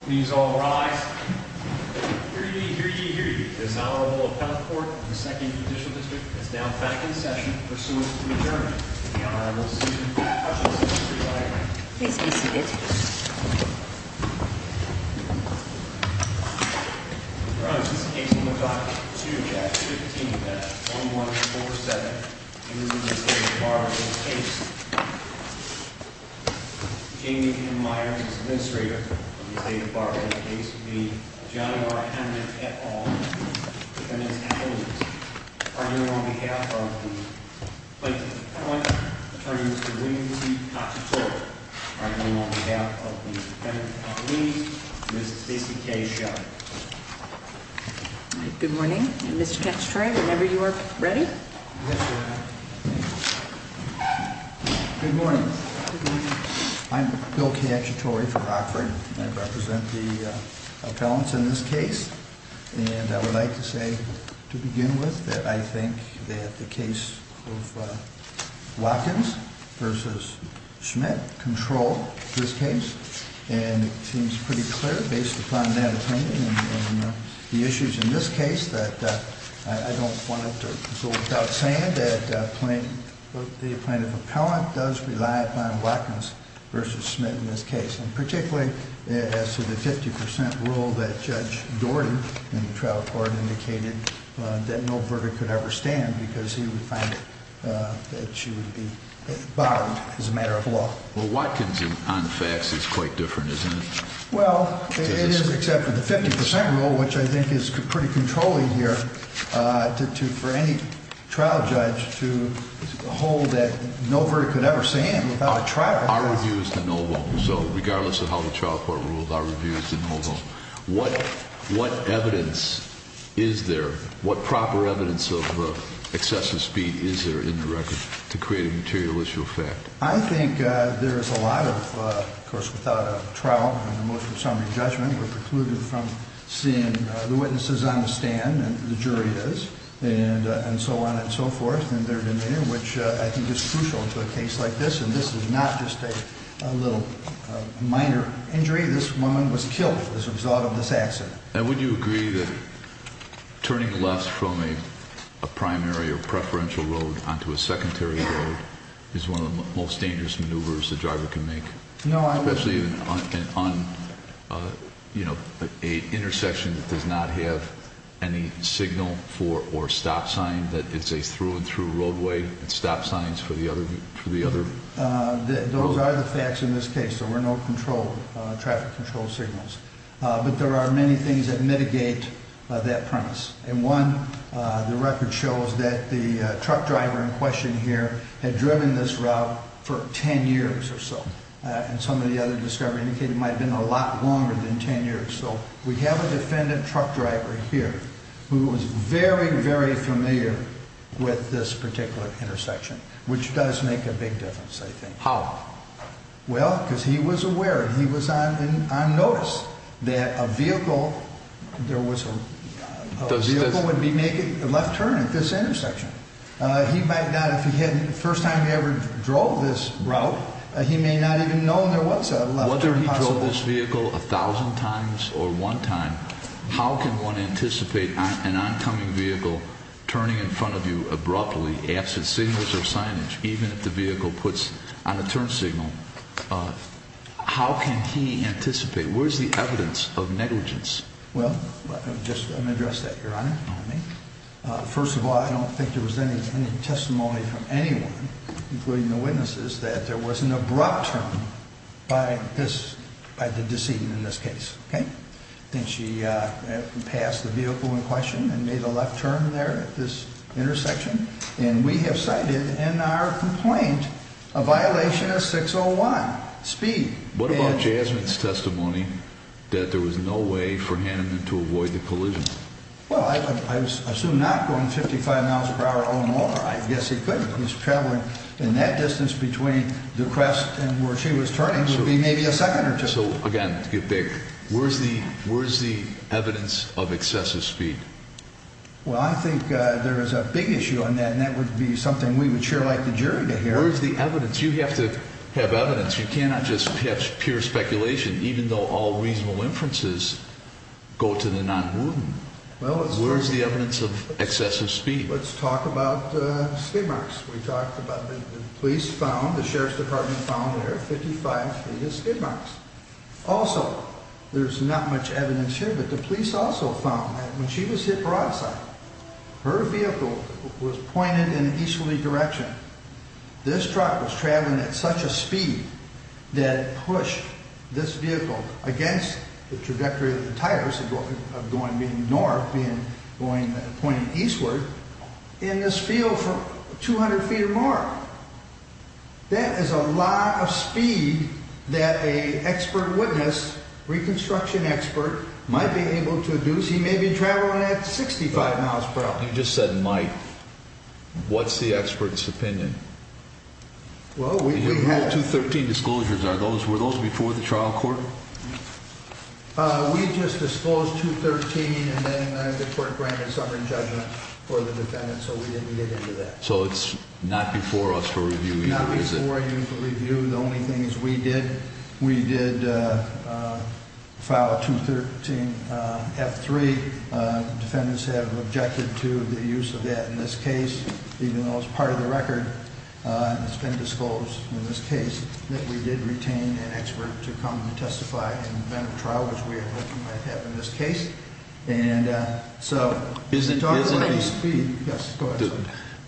Please all rise. Here you hear you hear you. This honorable appellate court, the second judicial district is now back in session pursuant to adjourn. Please be seated. Okay, this is one one, John quick the basic case. Good morning. Whenever you are ready. Good morning. I'm Bill catchatory for Rockford represent the balance in this case. And I would like to say to begin with that. I think that the case Watkins versus Schmidt control this case. And it seems pretty clear based upon that. The issues in this case that go without saying that the plaintiff appellant does rely upon Watkins versus Smith in this case and particularly as to the 50% rule that Judge Gordon and trial court indicated that no verdict could ever stand because he would find that she would be as a matter of law. Well, what can zoom on the facts is quite different, isn't it? Well, except for the 50% rule, which I think is pretty controlling here to for any trial judge to hold that no verdict could ever stand without a trial. Our review is the noble. So regardless of how the trial court rules our reviews and although what what evidence is there? What proper evidence of excessive speed is there in the record to create a material issue of fact? I think there is a lot of course without a trial and emotional summary judgment were precluded from seeing the witnesses on the stand and the jury is and and so on and so forth and their demeanor which I think is crucial to a case like this. And this is not just a little minor injury. This woman was killed as a result of this accident. And would you agree that turning left from a primary or preferential road onto a secondary road is one of the most dangerous maneuvers. The driver can make no, I'm actually even on you know, a intersection that does not have any signal for or stop sign that it's a through and through roadway and stop signs for the other for the other those are the facts in this case. There were no control traffic control signals, but there are many things that mitigate that premise and one the record shows that the truck driver in question here had driven this route for 10 years or so and some of the other discovery indicated might have been a lot longer than 10 years. So we have a defendant truck driver here who was very very familiar with this particular intersection, which does make a big difference. I think how well because he was aware he was on notice that a vehicle there was a the vehicle would be making a left turn at this intersection. He might not if he hadn't first time he ever drove this route. He may not even know there was a left turn possible. Whether he drove this vehicle a thousand times or one time. How can one anticipate an oncoming vehicle turning in front of you abruptly absent signals or signage even if the vehicle puts on a turn signal? How can he anticipate where's the evidence of negligence? Well, just let me address that your honor. First of all, I don't think there was any any testimony from anyone including the witnesses that there was an abrupt turn by this by the decedent in this case. Okay, then she passed the vehicle in question and made a left turn there at this intersection and we have cited in our complaint a violation of 601 speed. What about Jasmine's testimony that there was no way for him to avoid the collision? Well, I assume not going 55 miles per hour. Oh, more. I guess he couldn't. He's traveling in that distance between the crest and where she was turning to be maybe a second or two. So again, get big. Where's the where's the evidence of excessive speed? Well, I think there is a big issue on that and that would be something we would share like the jury to hear is the evidence. You have to have evidence. You cannot just have pure speculation, even though all reasonable inferences go to the non-movement. Well, where's the evidence of excessive speed? Let's talk about skid marks. We talked about the police found the Sheriff's Department found there 55 feet of skid marks. Also, there's not much evidence here, but the police also found that when she was hit broadside, her vehicle was pointed in an easterly direction. This truck was traveling at such a speed that it pushed this vehicle against the trajectory of the tires of going being north being going pointing eastward in this field for 200 feet or more. That is a lot of speed that a expert witness reconstruction expert might be able to do. So you may be traveling at 65 miles per hour. You just said might. What's the expert's opinion? Well, we have to 13 disclosures. Are those were those before the trial court? We just disclosed to 13 and then the court granted sovereign judgment for the defendant. So we didn't get into that. So it's not before us for review. Not before you for review. The only thing is we did. We did file a 213 F3. Defendants have objected to the use of that in this case, even though it's part of the record. It's been disclosed in this case that we did retain an expert to come to testify in the event of trial, which we are looking might have in this case. And so is it talking about speed? Yes,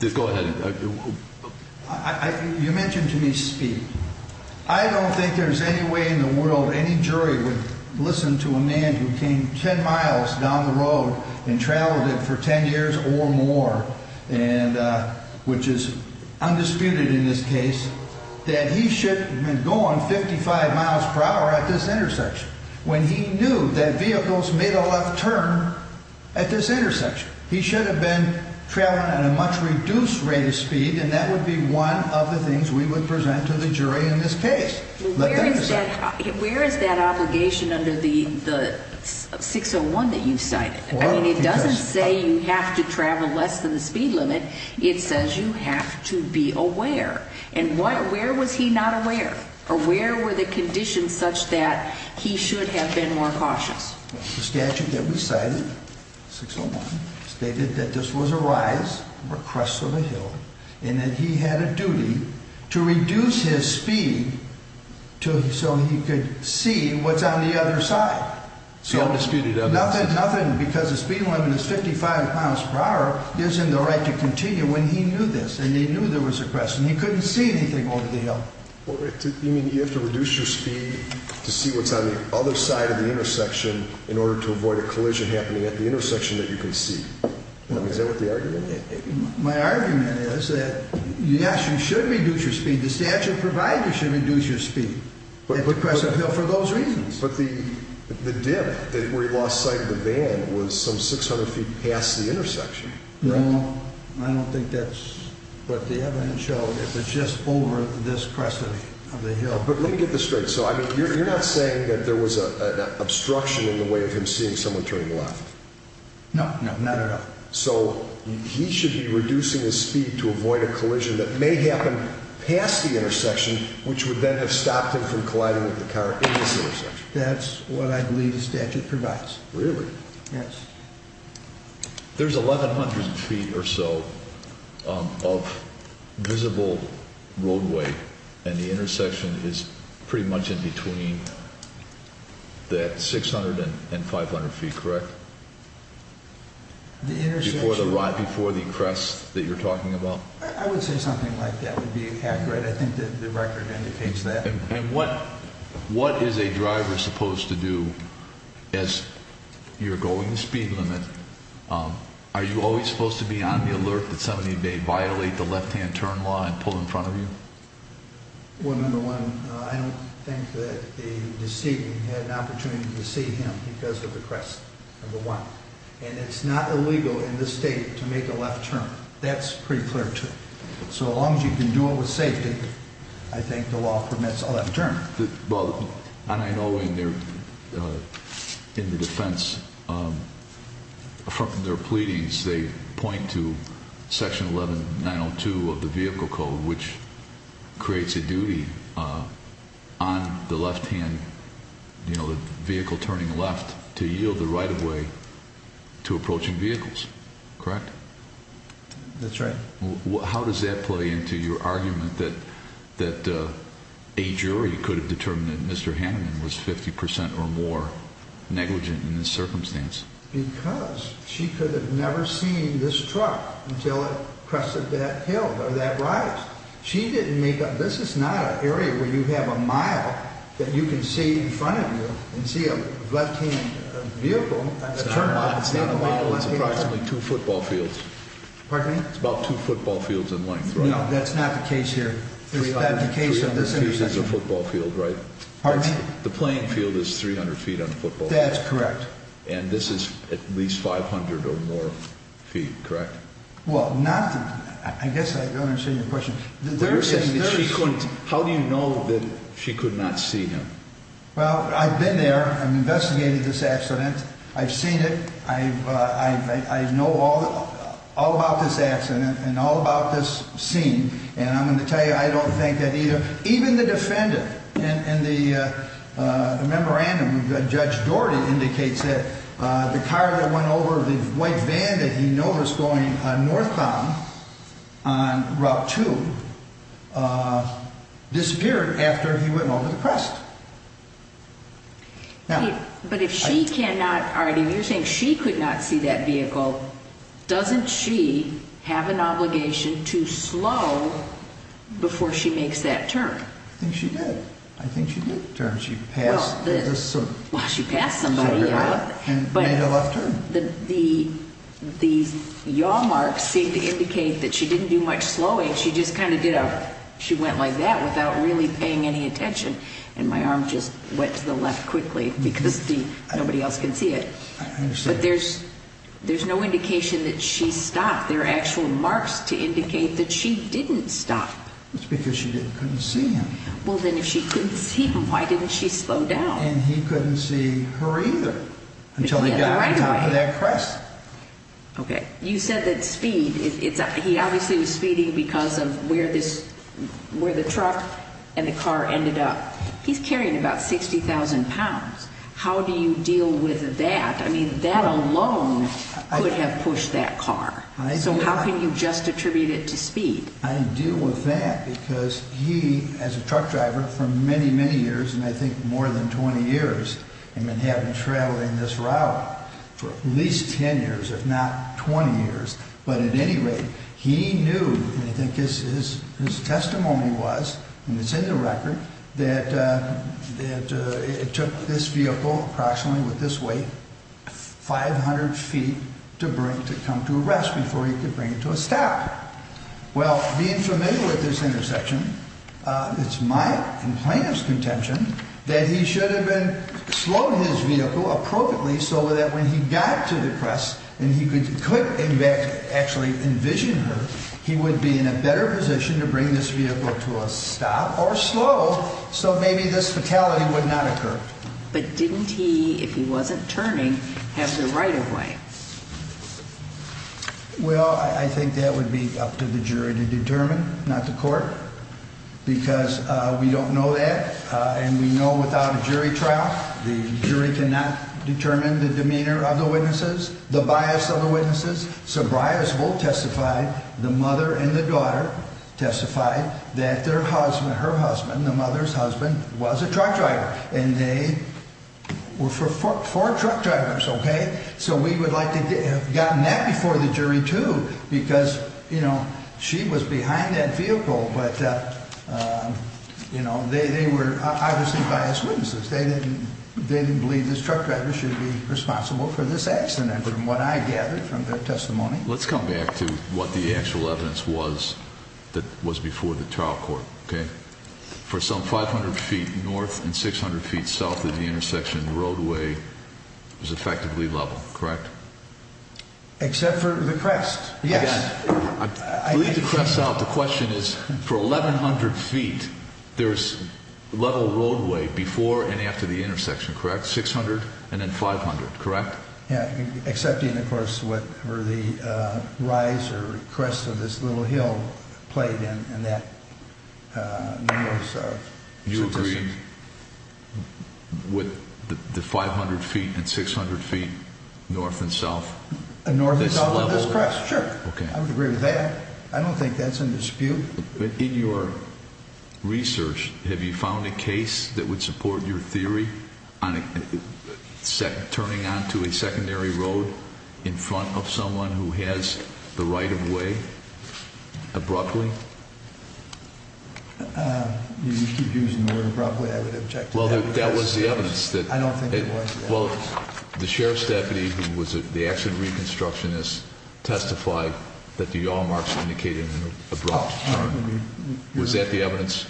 please go ahead. You mentioned to me speed. I don't think there's any way in the world. Any jury would listen to a man who came 10 miles down the road and traveled it for 10 years or more and which is undisputed in this case that he should have been going 55 miles per hour at this intersection when he knew that vehicles made a left turn at this intersection. He should have been traveling at a much reduced rate of speed. And that would be one of the things we would present to the jury in this case. Where is that obligation under the 601 that you cited? I mean, it doesn't say you have to travel less than the speed limit. It says you have to be aware and where was he not aware or where were the conditions such that he should have been more cautious? The statute that we cited, 601, stated that this was a rise or crest of a hill and that he had a duty to reduce his speed so he could see what's on the other side. So nothing because the speed limit is 55 miles per hour gives him the right to continue when he knew this and he knew there was a crest and he couldn't see anything over the hill. You mean you have to reduce your speed to see what's on the other side of the intersection in order to avoid a collision happening at the intersection that you can see? Is that what the argument is? My argument is that yes, you should reduce your speed. The statute provides you should reduce your speed at the crest of a hill for those reasons. But the dip where he lost sight of the van was some 600 feet past the intersection. No, I don't think that's what the evidence showed. It was just over this crest of the hill. But let me get this straight. So you're not saying that there was an obstruction in the way of him seeing someone turning left? No, not at all. So he should be reducing his speed to avoid a collision that may happen past the intersection, which would then have stopped him from colliding with the car in this intersection. That's what I believe the statute provides. Really? Yes. There's 1,100 feet or so of visible roadway and the intersection is pretty much in between that 600 and 500 feet, correct? The intersection. Before the crest that you're talking about? I would say something like that would be accurate. I think that the record indicates that. And what is a driver supposed to do as you're going the speed limit? Are you always supposed to be on the alert that somebody may violate the left-hand turn law and pull in front of you? Well, number one, I don't think that the deceiving had an opportunity to deceive him because of the crest, number one. And it's not illegal in this state to make a left turn. That's pretty clear, too. So as long as you can do it with safety, I think the law permits a left turn. And I know in the defense, from their pleadings, they point to Section 11902 of the Vehicle Code, which creates a duty on the left-hand vehicle turning left to yield the right-of-way to approaching vehicles, correct? That's right. How does that play into your argument that a jury could have determined that Mr. Hanneman was 50 percent or more negligent in this circumstance? Because she could have never seen this truck until it crested that hill or that rise. She didn't make a – this is not an area where you have a mile that you can see in front of you and see a left-hand vehicle. It's not a mile. It's approximately two football fields. Pardon me? It's about two football fields in length, right? No, that's not the case here. Three hundred feet is a football field, right? Pardon me? The playing field is 300 feet on a football field. That's correct. And this is at least 500 or more feet, correct? Well, not – I guess I don't understand your question. You're saying that she couldn't – how do you know that she could not see him? Well, I've been there. I've investigated this accident. I've seen it. I know all about this accident and all about this scene, and I'm going to tell you I don't think that either – disappeared after he went over the crest. But if she cannot – or if you're saying she could not see that vehicle, doesn't she have an obligation to slow before she makes that turn? I think she did. I think she did turn. She passed through this sort of area and made a left turn. The yaw marks seem to indicate that she didn't do much slowing. She just kind of did a – she went like that without really paying any attention, and my arm just went to the left quickly because nobody else can see it. I understand. But there's no indication that she stopped. There are actual marks to indicate that she didn't stop. That's because she couldn't see him. Well, then if she couldn't see him, why didn't she slow down? And he couldn't see her either until he got to the top of that crest. Okay. You said that speed – he obviously was speeding because of where the truck and the car ended up. He's carrying about 60,000 pounds. How do you deal with that? I mean, that alone could have pushed that car. So how can you just attribute it to speed? I deal with that because he, as a truck driver, for many, many years, and I think more than 20 years, had been traveling this route for at least 10 years, if not 20 years. But at any rate, he knew, and I think his testimony was, and it's in the record, that it took this vehicle approximately with this weight 500 feet to come to a rest before he could bring it to a stop. Well, being familiar with this intersection, it's my and plaintiff's contention that he should have been slowing his vehicle appropriately so that when he got to the crest and he could in fact actually envision her, he would be in a better position to bring this vehicle to a stop or slow so maybe this fatality would not occur. But didn't he, if he wasn't turning, have the right-of-way? Well, I think that would be up to the jury to determine, not the court, because we don't know that, and we know without a jury trial the jury cannot determine the demeanor of the witnesses, the bias of the witnesses. So Briarsville testified, the mother and the daughter testified, that their husband, her husband, the mother's husband, was a truck driver, and they were four truck drivers, okay? So we would like to have gotten that before the jury, too, because, you know, she was behind that vehicle, but, you know, they were obviously biased witnesses. They didn't believe this truck driver should be responsible for this accident, from what I gathered from their testimony. Let's come back to what the actual evidence was that was before the trial court, okay? For some 500 feet north and 600 feet south of the intersection, the roadway was effectively level, correct? Except for the crest, yes. I believe the crest, the question is, for 1,100 feet, there's level roadway before and after the intersection, correct? 600 and then 500, correct? Except, of course, for the rise or crest of this little hill played in that. You agree with the 500 feet and 600 feet north and south? North and south of this crest, sure. I would agree with that. I don't think that's in dispute. In your research, have you found a case that would support your theory on turning onto a secondary road in front of someone who has the right-of-way abruptly? You keep using the word abruptly. I would object to that. Well, that was the evidence. I don't think it was. Well, the sheriff's deputy who was the accident reconstructionist testified that the yaw marks indicated an abrupt turn. Was that the evidence?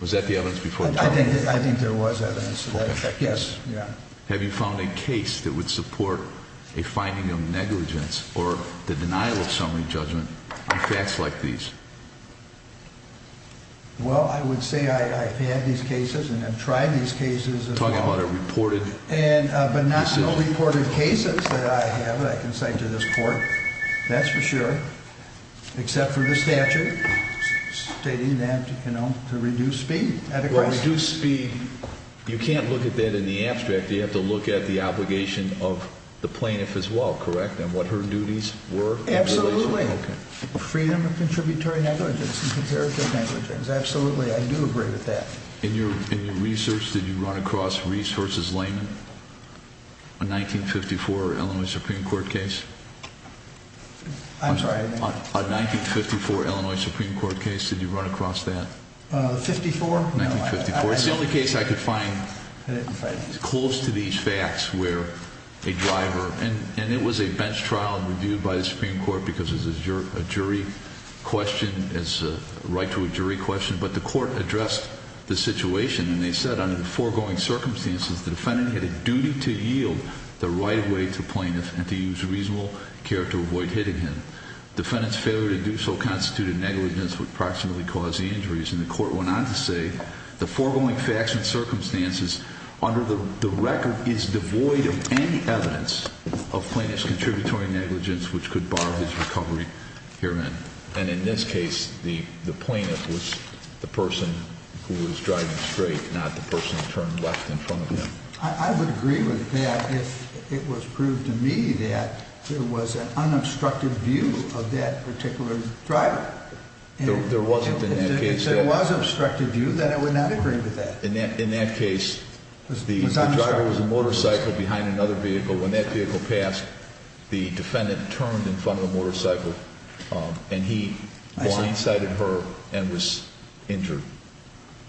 Was that the evidence before the trial? I think there was evidence to that effect, yes. Have you found a case that would support a finding of negligence or the denial of summary judgment on facts like these? Well, I would say I've had these cases and have tried these cases as well. You're talking about a reported case? But not so reported cases that I have that I can cite to this court, that's for sure, except for the statute stating that, you know, to reduce speed. Well, reduce speed, you can't look at that in the abstract. You have to look at the obligation of the plaintiff as well, correct, and what her duties were in relation to that. Freedom of contributory negligence and comparative negligence, absolutely, I do agree with that. In your research, did you run across Reese v. Lehman, a 1954 Illinois Supreme Court case? I'm sorry? A 1954 Illinois Supreme Court case, did you run across that? The 54? 1954, it's the only case I could find close to these facts where a driver, and it was a bench trial reviewed by the Supreme Court because it's a jury question, it's a right to a jury question, but the court addressed the situation and they said under the foregoing circumstances, the defendant had a duty to yield the right way to plaintiff and to use reasonable care to avoid hitting him. Defendant's failure to do so constituted negligence which approximately caused the injuries, and the court went on to say, the foregoing facts and circumstances under the record is devoid of any evidence of plaintiff's contributory negligence which could bar his recovery herein. And in this case, the plaintiff was the person who was driving straight, not the person who turned left in front of him. I would agree with that if it was proved to me that there was an unobstructed view of that particular driver. There wasn't in that case. If there was an obstructed view, then I would not agree with that. In that case, the driver was a motorcycle behind another vehicle. When that vehicle passed, the defendant turned in front of the motorcycle and he blindsided her and was injured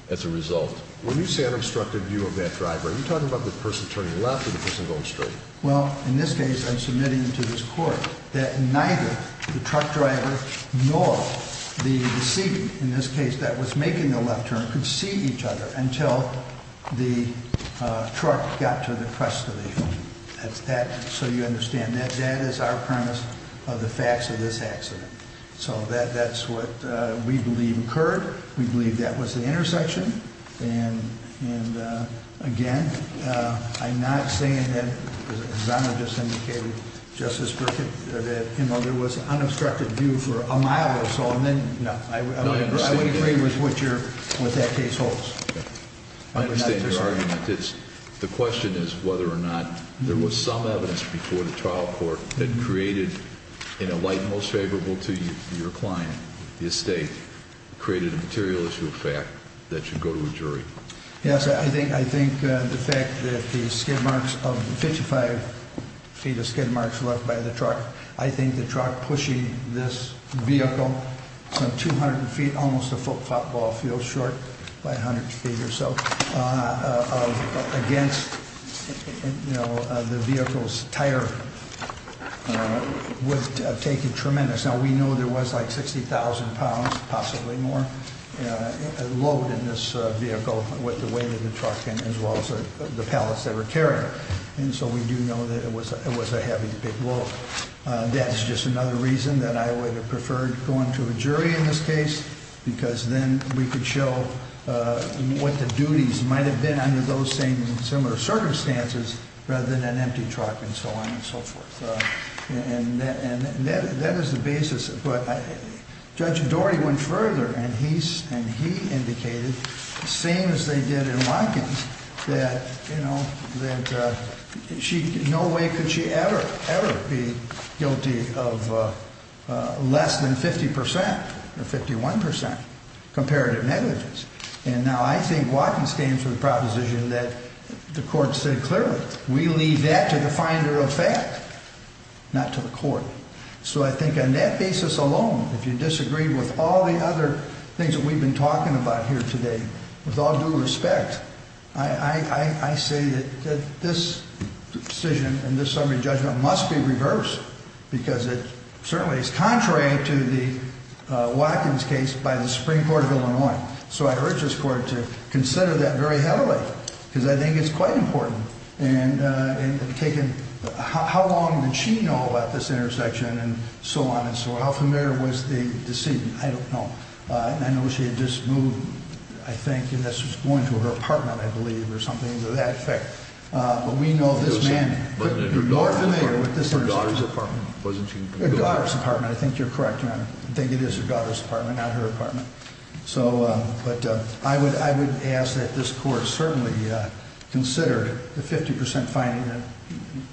as a result. When you say unobstructed view of that driver, are you talking about the person turning left or the person going straight? Well, in this case, I'm submitting to this court that neither the truck driver nor the seat, in this case, that was making the left turn, could see each other until the truck got to the crest of the hill. So you understand that that is our premise of the facts of this accident. So that's what we believe occurred. We believe that was the intersection. And, again, I'm not saying that, as Honor just indicated, Justice Brickett, that there was an unobstructed view for a mile or so. And then, no, I would agree with what that case holds. I understand your argument. The question is whether or not there was some evidence before the trial court that created, in a light most favorable to your client, the estate, created a material issue of fact that should go to a jury. Yes, I think the fact that the skid marks of 55 feet of skid marks left by the truck, I think the truck pushing this vehicle some 200 feet, almost a football field short, by 100 feet or so, against the vehicle's tire would have taken tremendous. Now, we know there was like 60,000 pounds, possibly more, load in this vehicle with the weight of the truck and as well as the pallets that were carried. And so we do know that it was a heavy, big load. That is just another reason that I would have preferred going to a jury in this case, because then we could show what the duties might have been under those same similar circumstances rather than an empty truck and so on and so forth. And that is the basis. Judge Doherty went further and he indicated, same as they did in Watkins, that no way could she ever, ever be guilty of less than 50 percent or 51 percent comparative negligence. And now I think Watkins stands for the proposition that the court said clearly. We leave that to the finder of fact, not to the court. So I think on that basis alone, if you disagree with all the other things that we've been talking about here today, with all due respect, I say that this decision and this summary judgment must be reversed, because it certainly is contrary to the Watkins case by the Supreme Court of Illinois. So I urge this court to consider that very heavily, because I think it's quite important. And taken, how long did she know about this intersection and so on and so on? How familiar was the decedent? I don't know. I know she had just moved, I think, and this was going to her apartment, I believe, or something to that effect. But we know this man could be more familiar with this intersection. Her daughter's apartment, wasn't she? Her daughter's apartment. I think you're correct, Your Honor. I think it is her daughter's apartment, not her apartment. But I would ask that this court certainly consider the 50% finding that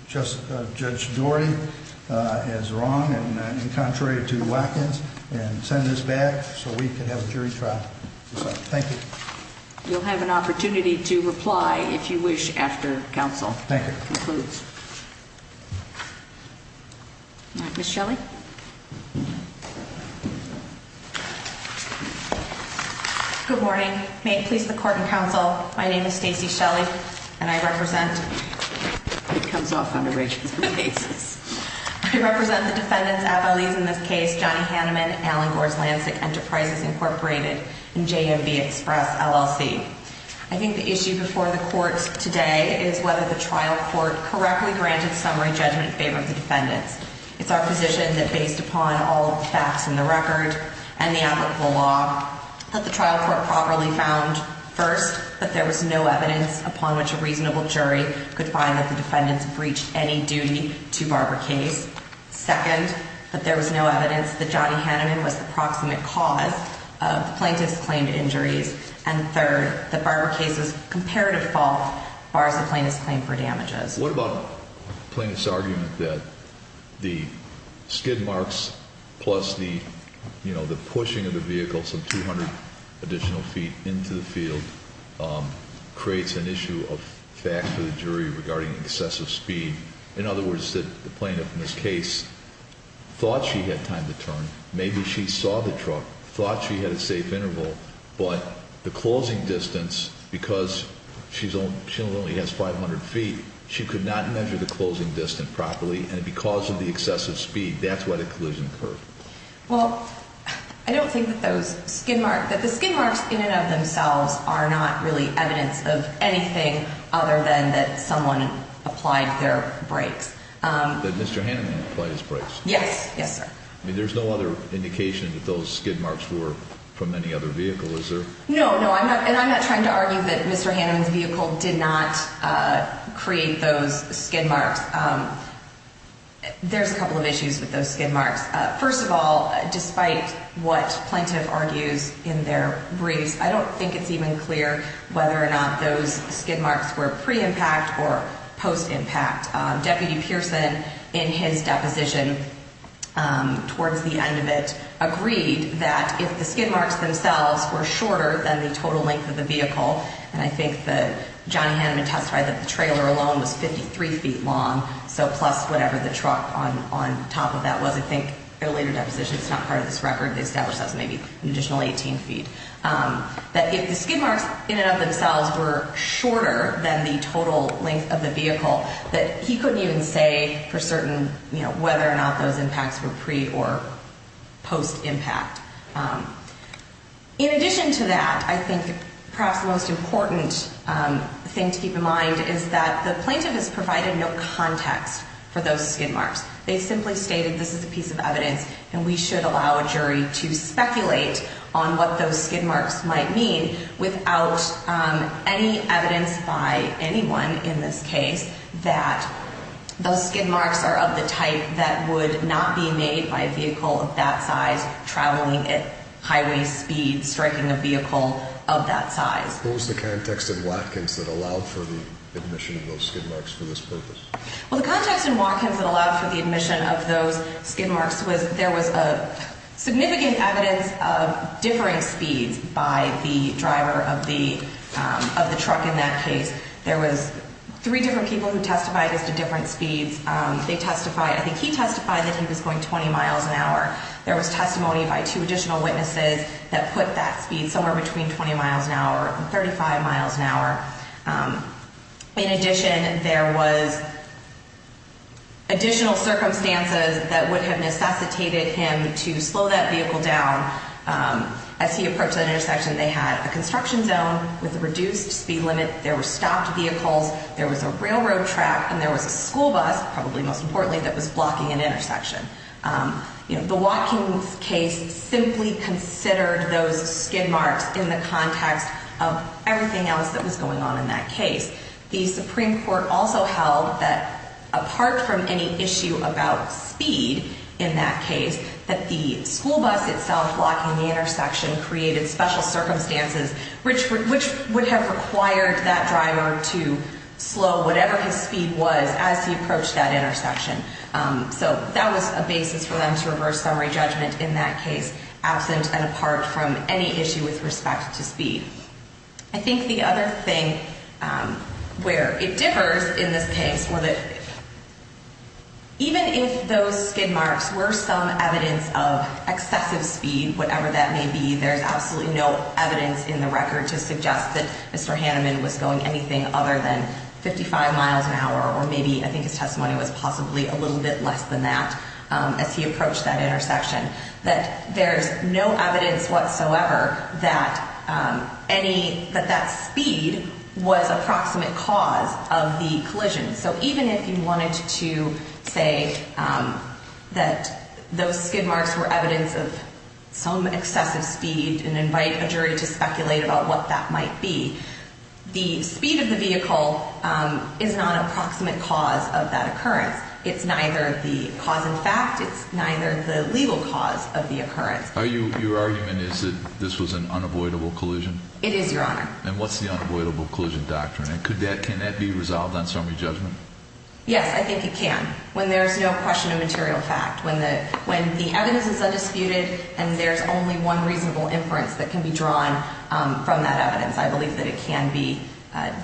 Judge Dorey is wrong, and contrary to Watkins, and send this back so we can have a jury trial. Thank you. You'll have an opportunity to reply, if you wish, after counsel concludes. Thank you. All right, Ms. Shelley? Good morning. May it please the court and counsel, my name is Stacey Shelley, and I represent It comes off on a regular basis. I represent the defendants at Belize in this case, Johnny Hanneman, Allen Gores-Lancic, Enterprises Incorporated, and JMB Express, LLC. I think the issue before the court today is whether the trial court correctly granted summary judgment in favor of the defendants. It's our position that based upon all the facts in the record and the applicable law, that the trial court properly found, first, that there was no evidence upon which a reasonable jury could find that the defendants breached any duty to Barbara Case. Second, that there was no evidence that Johnny Hanneman was the proximate cause of the plaintiff's claimed injuries. And third, that Barbara Case's comparative fault bars the plaintiff's claim for damages. What about the plaintiff's argument that the skid marks plus the pushing of the vehicle some 200 additional feet into the field creates an issue of fact for the jury regarding excessive speed. In other words, the plaintiff in this case thought she had time to turn, maybe she saw the truck, thought she had a safe interval, but the closing distance, because she only has 500 feet, she could not measure the closing distance properly, and because of the excessive speed, that's why the collision occurred. Well, I don't think that those skid marks, that the skid marks in and of themselves are not really evidence of anything other than that someone applied their brakes. That Mr. Hanneman applied his brakes? Yes, yes, sir. I mean, there's no other indication that those skid marks were from any other vehicle, is there? No, no, and I'm not trying to argue that Mr. Hanneman's vehicle did not create those skid marks. There's a couple of issues with those skid marks. First of all, despite what plaintiff argues in their briefs, I don't think it's even clear whether or not those skid marks were pre-impact or post-impact. Deputy Pearson, in his deposition towards the end of it, agreed that if the skid marks themselves were shorter than the total length of the vehicle, and I think that Johnny Hanneman testified that the trailer alone was 53 feet long, so plus whatever the truck on top of that was. I think in a later deposition, it's not part of this record, they established that as maybe an additional 18 feet, that if the skid marks in and of themselves were shorter than the total length of the vehicle, that he couldn't even say for certain whether or not those impacts were pre- or post-impact. In addition to that, I think perhaps the most important thing to keep in mind is that the plaintiff has provided no context for those skid marks. They simply stated this is a piece of evidence, and we should allow a jury to speculate on what those skid marks might mean without any evidence by anyone in this case that those skid marks are of the type that would not be made by a vehicle of that size traveling at highway speed, striking a vehicle of that size. What was the context in Watkins that allowed for the admission of those skid marks for this purpose? Well, the context in Watkins that allowed for the admission of those skid marks was there was significant evidence of differing speeds by the driver of the truck in that case. There was three different people who testified as to different speeds. They testified, I think he testified that he was going 20 miles an hour. There was testimony by two additional witnesses that put that speed somewhere between 20 miles an hour and 35 miles an hour. In addition, there was additional circumstances that would have necessitated him to slow that vehicle down. As he approached that intersection, they had a construction zone with a reduced speed limit. There were stopped vehicles. There was a railroad track, and there was a school bus, probably most importantly, that was blocking an intersection. The Watkins case simply considered those skid marks in the context of everything else that was going on in that case. The Supreme Court also held that apart from any issue about speed in that case, that the school bus itself blocking the intersection created special circumstances which would have required that driver to slow whatever his speed was as he approached that intersection. So that was a basis for them to reverse summary judgment in that case, absent and apart from any issue with respect to speed. I think the other thing where it differs in this case were that even if those skid marks were some evidence of excessive speed, whatever that may be, there's absolutely no evidence in the record to suggest that Mr. Hanneman was going anything other than 55 miles an hour, or maybe I think his testimony was possibly a little bit less than that as he approached that intersection, that there's no evidence whatsoever that that speed was a proximate cause of the collision. So even if you wanted to say that those skid marks were evidence of some excessive speed and invite a jury to speculate about what that might be, the speed of the vehicle is not a proximate cause of that occurrence. It's neither the cause in fact, it's neither the legal cause of the occurrence. Your argument is that this was an unavoidable collision? It is, Your Honor. And what's the unavoidable collision doctrine? Can that be resolved on summary judgment? Yes, I think it can when there's no question of material fact, when the evidence is undisputed and there's only one reasonable inference that can be drawn from that evidence. I believe that it can be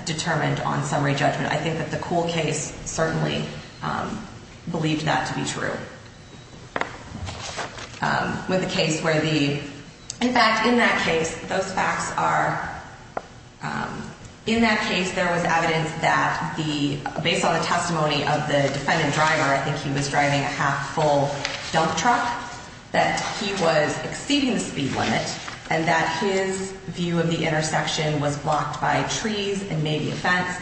determined on summary judgment. I think that the Kuhl case certainly believed that to be true. With the case where the, in fact, in that case, those facts are, in that case there was evidence that the, based on the testimony of the defendant driver, I think he was driving a half full dump truck, that he was exceeding the speed limit and that his view of the intersection was blocked by trees and maybe a fence.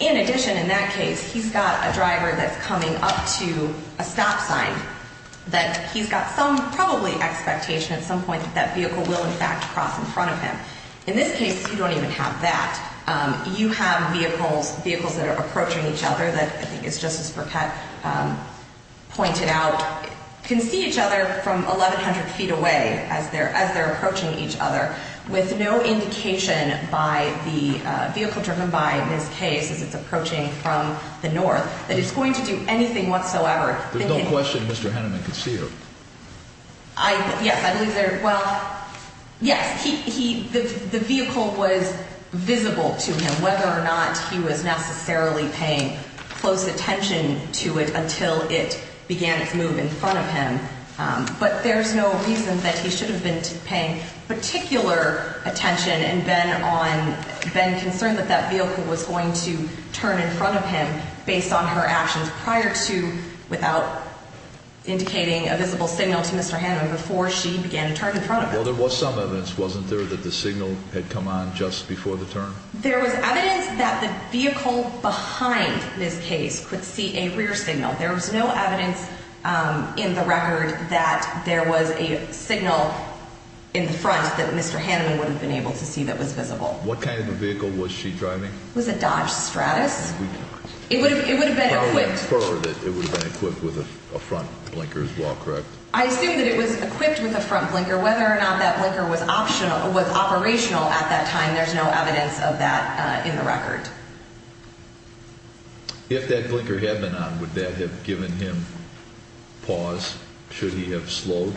In addition, in that case, he's got a driver that's coming up to a stop sign, that he's got some, probably, expectation at some point that that vehicle will, in fact, cross in front of him. In this case, you don't even have that. You have vehicles, vehicles that are approaching each other, that I think is Justice Burkett pointed out, can see each other from 1,100 feet away as they're approaching each other, with no indication by the vehicle driven by, in this case, as it's approaching from the north, that it's going to do anything whatsoever. There's no question Mr. Henneman could see her. I, yes, I believe there, well, yes, he, the vehicle was visible to him, whether or not he was necessarily paying close attention to it until it began its move in front of him. But there's no reason that he should have been paying particular attention and been on, been concerned that that vehicle was going to turn in front of him based on her actions prior to, without indicating a visible signal to Mr. Henneman before she began to turn in front of him. Well, there was some evidence, wasn't there, that the signal had come on just before the turn? There was evidence that the vehicle behind this case could see a rear signal. There was no evidence in the record that there was a signal in the front that Mr. Henneman wouldn't have been able to see that was visible. What kind of vehicle was she driving? It was a Dodge Stratus. It would have been equipped. I would infer that it would have been equipped with a front blinker as well, correct? I assume that it was equipped with a front blinker. Whether or not that blinker was operational at that time, there's no evidence of that in the record. If that blinker had been on, would that have given him pause? Should he have slowed?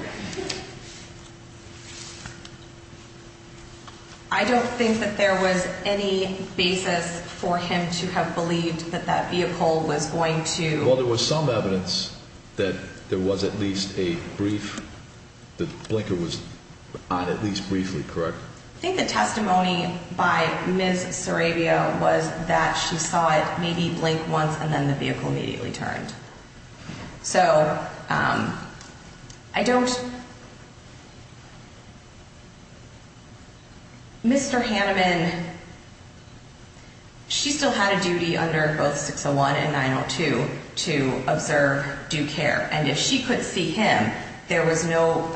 I don't think that there was any basis for him to have believed that that vehicle was going to... At least briefly, correct? I think the testimony by Ms. Sarabia was that she saw it maybe blink once and then the vehicle immediately turned. Mr. Henneman, she still had a duty under both 601 and 902 to observe, do care. If she could see him, there was no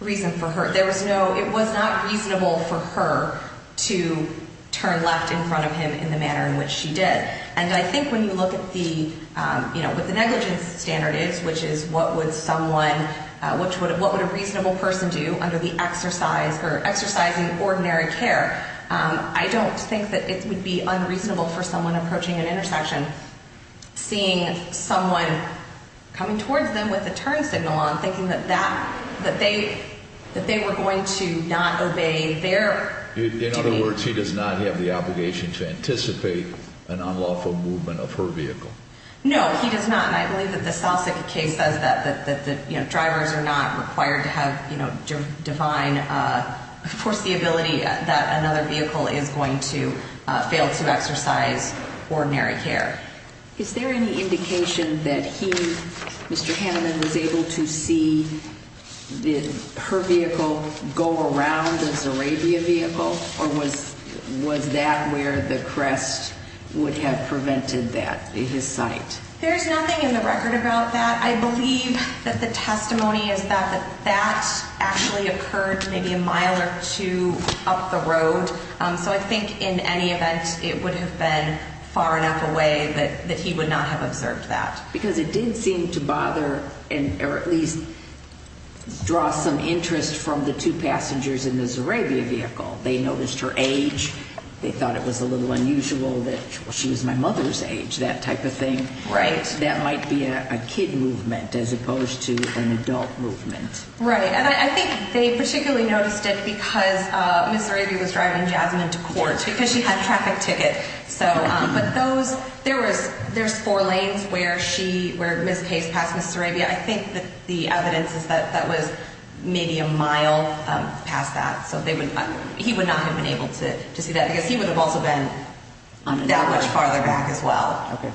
reason for her... It was not reasonable for her to turn left in front of him in the manner in which she did. I think when you look at what the negligence standard is, which is what would a reasonable person do under exercising ordinary care, I don't think that it would be unreasonable for someone approaching an intersection, seeing someone coming towards them with a turn signal on, thinking that they were going to not obey their duty. In other words, he does not have the obligation to anticipate an unlawful movement of her vehicle. No, he does not. And I believe that the Salsic case says that the drivers are not required to have divine foreseeability that another vehicle is going to fail to exercise ordinary care. Is there any indication that he, Mr. Henneman, was able to see her vehicle go around the Sarabia vehicle? Or was that where the crest would have prevented that, his sight? There is nothing in the record about that. I believe that the testimony is that that actually occurred maybe a mile or two up the road. So I think in any event, it would have been far enough away that he would not have observed that. Because it did seem to bother or at least draw some interest from the two passengers in the Sarabia vehicle. They noticed her age. They thought it was a little unusual that she was my mother's age, that type of thing. Right. And that might be a kid movement as opposed to an adult movement. Right. And I think they particularly noticed it because Ms. Sarabia was driving Jasmine to court because she had a traffic ticket. But those, there's four lanes where Ms. Pace passed Ms. Sarabia. I think that the evidence is that that was maybe a mile past that. So he would not have been able to see that because he would have also been that much farther back as well. Okay.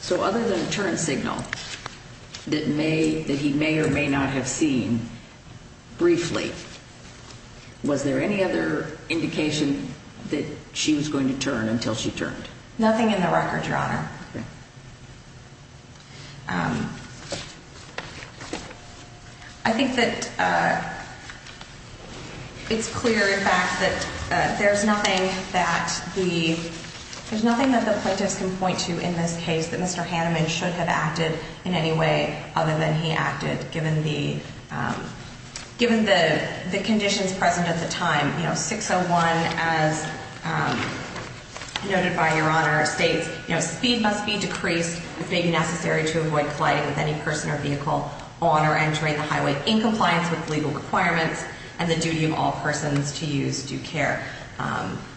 So other than a turn signal that he may or may not have seen briefly, was there any other indication that she was going to turn until she turned? Nothing in the record, Your Honor. Okay. I think that it's clear, in fact, that there's nothing that the plaintiffs can point to in this case that Mr. Hanneman should have acted in any way other than he acted, given the conditions present at the time. You know, 601, as noted by Your Honor, states, you know, speed must be decreased if it may be necessary to avoid colliding with any person or vehicle on or entering the highway in compliance with legal requirements and the duty of all persons to use due care.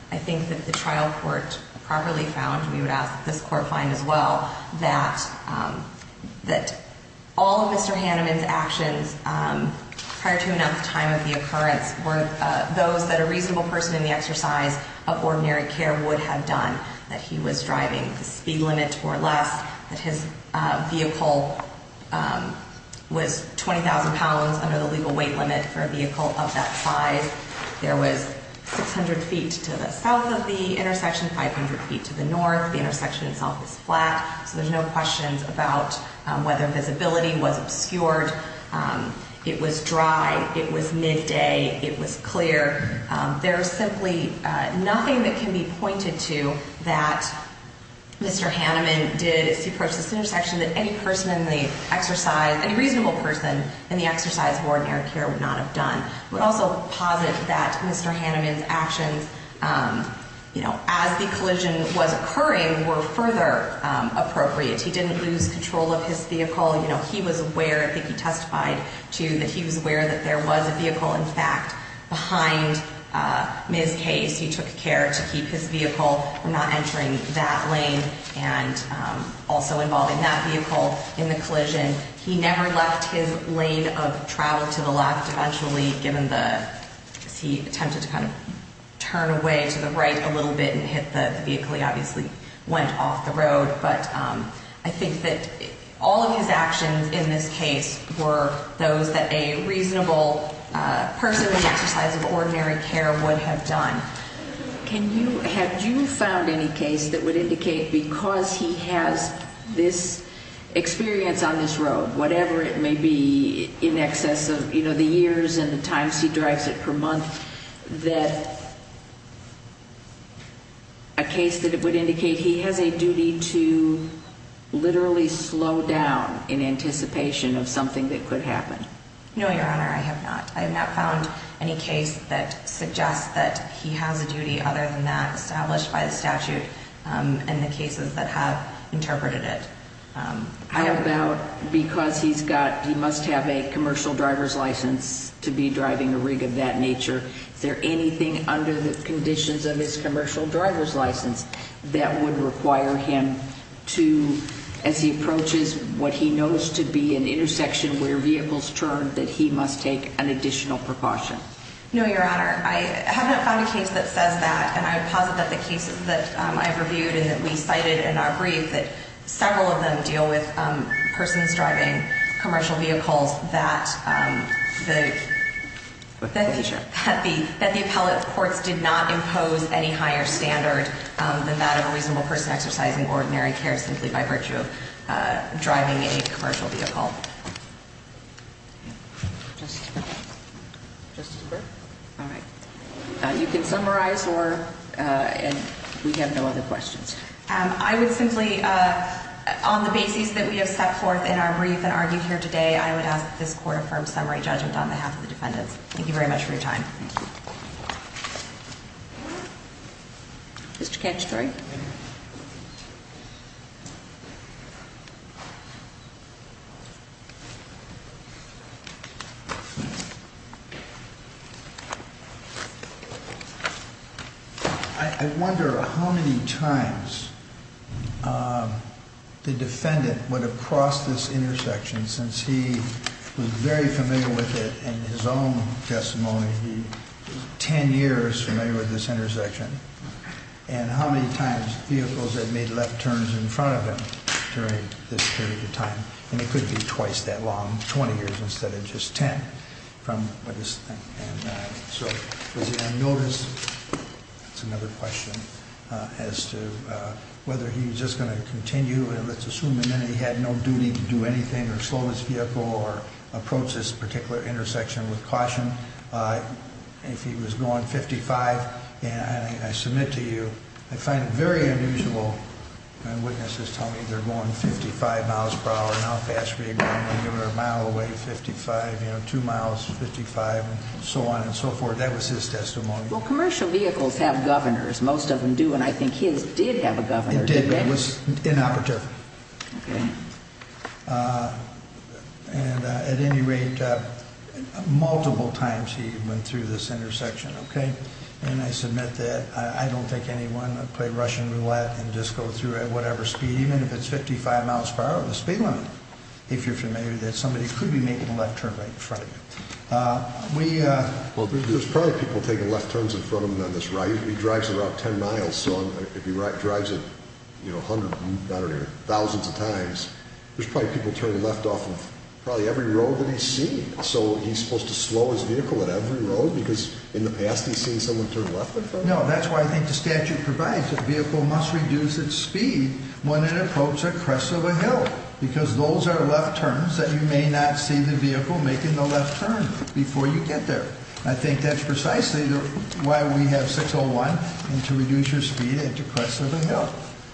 I think that the trial court properly found, and we would ask that this court find as well, that all of Mr. Hanneman's actions prior to enough time of the occurrence were those that a reasonable person in the exercise of ordinary care would have done, that he was driving the speed limit or less, that his vehicle was 20,000 pounds under the legal weight limit for a vehicle of that size. There was 600 feet to the south of the intersection, 500 feet to the north. The intersection itself is flat, so there's no questions about whether visibility was obscured, it was dry, it was midday, it was clear. There is simply nothing that can be pointed to that Mr. Hanneman did as he approached this intersection that any person in the exercise, any reasonable person in the exercise of ordinary care would not have done. I would also posit that Mr. Hanneman's actions, you know, as the collision was occurring, were further appropriate. He didn't lose control of his vehicle. You know, he was aware, I think he testified, too, that he was aware that there was a vehicle, in fact, behind Ms. Case. He took care to keep his vehicle from not entering that lane and also involving that vehicle in the collision. He never left his lane of travel to the left eventually, given the, as he attempted to kind of turn away to the right a little bit and hit the vehicle. He obviously went off the road. But I think that all of his actions in this case were those that a reasonable person in the exercise of ordinary care would have done. Have you found any case that would indicate because he has this experience on this road, whatever it may be, in excess of, you know, the years and the times he drives it per month, that a case that it would indicate he has a duty to literally slow down in anticipation of something that could happen? No, Your Honor, I have not. I have not found any case that suggests that he has a duty other than that established by the statute and the cases that have interpreted it. How about because he's got, he must have a commercial driver's license to be driving a rig of that nature? Is there anything under the conditions of his commercial driver's license that would require him to, as he approaches what he knows to be an intersection where vehicles turn, that he must take an additional precaution? No, Your Honor, I have not found a case that says that, and I would posit that the cases that I've reviewed and that we cited in our brief, that several of them deal with persons driving commercial vehicles that the appellate courts did not impose any higher standard than that of a reasonable person exercising ordinary care simply by virtue of driving a commercial vehicle. Justice Burke? All right. You can summarize, or, and we have no other questions. I would simply, on the basis that we have set forth in our brief and argued here today, I would ask that this Court affirm summary judgment on behalf of the defendants. Thank you very much for your time. Thank you. Mr. Cacciatore? I wonder how many times the defendant would have crossed this intersection since he was very familiar with it in his own testimony. He was 10 years familiar with this intersection. And how many times vehicles have made left turns in front of him during this period of time? And it could be twice that long, 20 years instead of just 10. So was he on notice? That's another question as to whether he was just going to continue. Let's assume he had no duty to do anything or slow his vehicle or approach this particular intersection with caution. If he was going 55, and I submit to you, I find it very unusual when witnesses tell me they're going 55 miles per hour. How fast were you going when you were a mile away, 55, you know, 2 miles, 55, and so on and so forth. That was his testimony. Well, commercial vehicles have governors. Most of them do. And I think his did have a governor. He did, but it was inoperative. And at any rate, multiple times he went through this intersection, okay? And I submit that I don't think anyone would play Russian roulette and just go through at whatever speed, even if it's 55 miles per hour. The speed limit, if you're familiar, that somebody could be making a left turn right in front of you. Well, there's probably people taking left turns in front of him on this right. He drives about 10 miles, so if he drives it, you know, hundreds, I don't know, thousands of times, there's probably people turning left off of probably every road that he's seen. So he's supposed to slow his vehicle at every road because in the past he's seen someone turn left in front of him? No, that's why I think the statute provides that the vehicle must reduce its speed when it approaches a crest of a hill because those are left turns that you may not see the vehicle making the left turn before you get there. I think that's precisely why we have 601 and to reduce your speed at the crest of a hill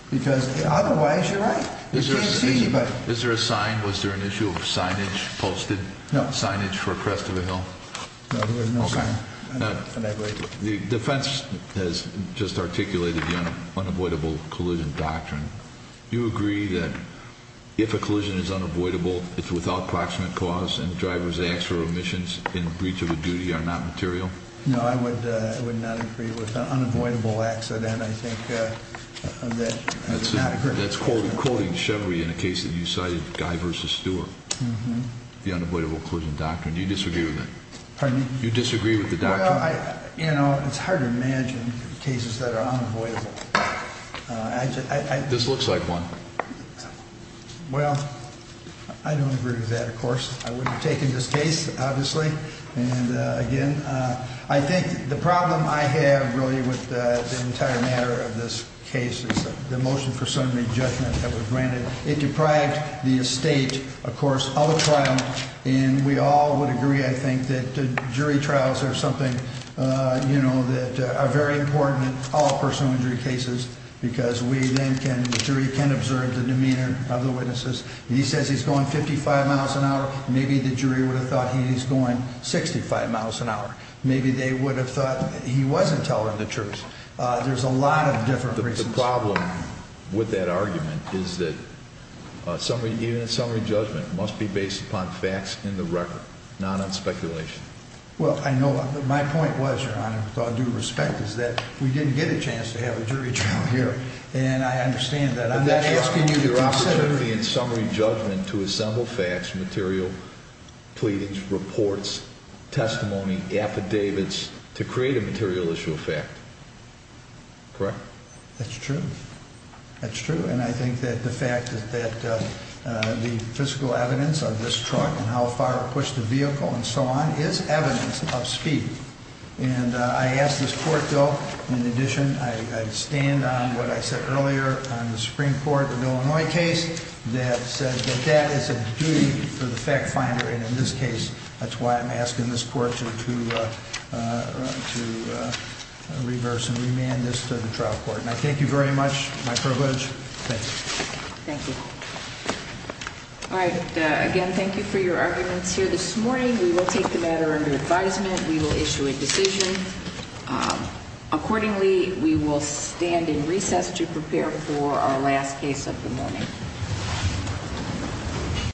because otherwise you're right, you can't see anybody. Is there a sign? Was there an issue of signage posted? No. Signage for a crest of a hill? No, there was no sign. The defense has just articulated the unavoidable collision doctrine. Do you agree that if a collision is unavoidable, it's without proximate cause and the driver's acts or omissions in breach of a duty are not material? No, I would not agree with that. Unavoidable accident, I think, that does not occur. That's quoting Chevrolet in a case that you cited, Guy v. Stewart, the unavoidable collision doctrine. Do you disagree with that? Pardon me? Do you disagree with the doctrine? Well, you know, it's hard to imagine cases that are unavoidable. This looks like one. Well, I don't agree with that, of course. I wouldn't have taken this case, obviously. And, again, I think the problem I have, really, with the entire matter of this case is the motion for summary judgment that was granted. It deprived the estate, of course, of a trial, and we all would agree, I think, that jury trials are something, you know, that are very important in all personal injury cases because we then can, the jury can observe the demeanor of the witnesses. He says he's going 55 miles an hour. Maybe the jury would have thought he's going 65 miles an hour. Maybe they would have thought he wasn't telling the truth. There's a lot of different reasons. The problem with that argument is that even a summary judgment must be based upon facts in the record, not on speculation. Well, I know, but my point was, Your Honor, with all due respect, is that we didn't get a chance to have a jury trial here, and I understand that. I'm not asking you to consider it. But that's your opportunity in summary judgment to assemble facts, material pleadings, reports, testimony, affidavits, to create a material issue of fact. Correct? That's true. That's true, and I think that the fact that the physical evidence of this truck and how far it pushed the vehicle and so on is evidence of speed. And I ask this court, though, in addition, I stand on what I said earlier on the Supreme Court of Illinois case that said that that is a duty for the fact finder, and in this case, that's why I'm asking this court to reverse and remand this to the trial court. And I thank you very much. My privilege. Thank you. Thank you. All right. Again, thank you for your arguments here this morning. We will take the matter under advisement. We will issue a decision. Accordingly, we will stand in recess to prepare for our last case of the morning.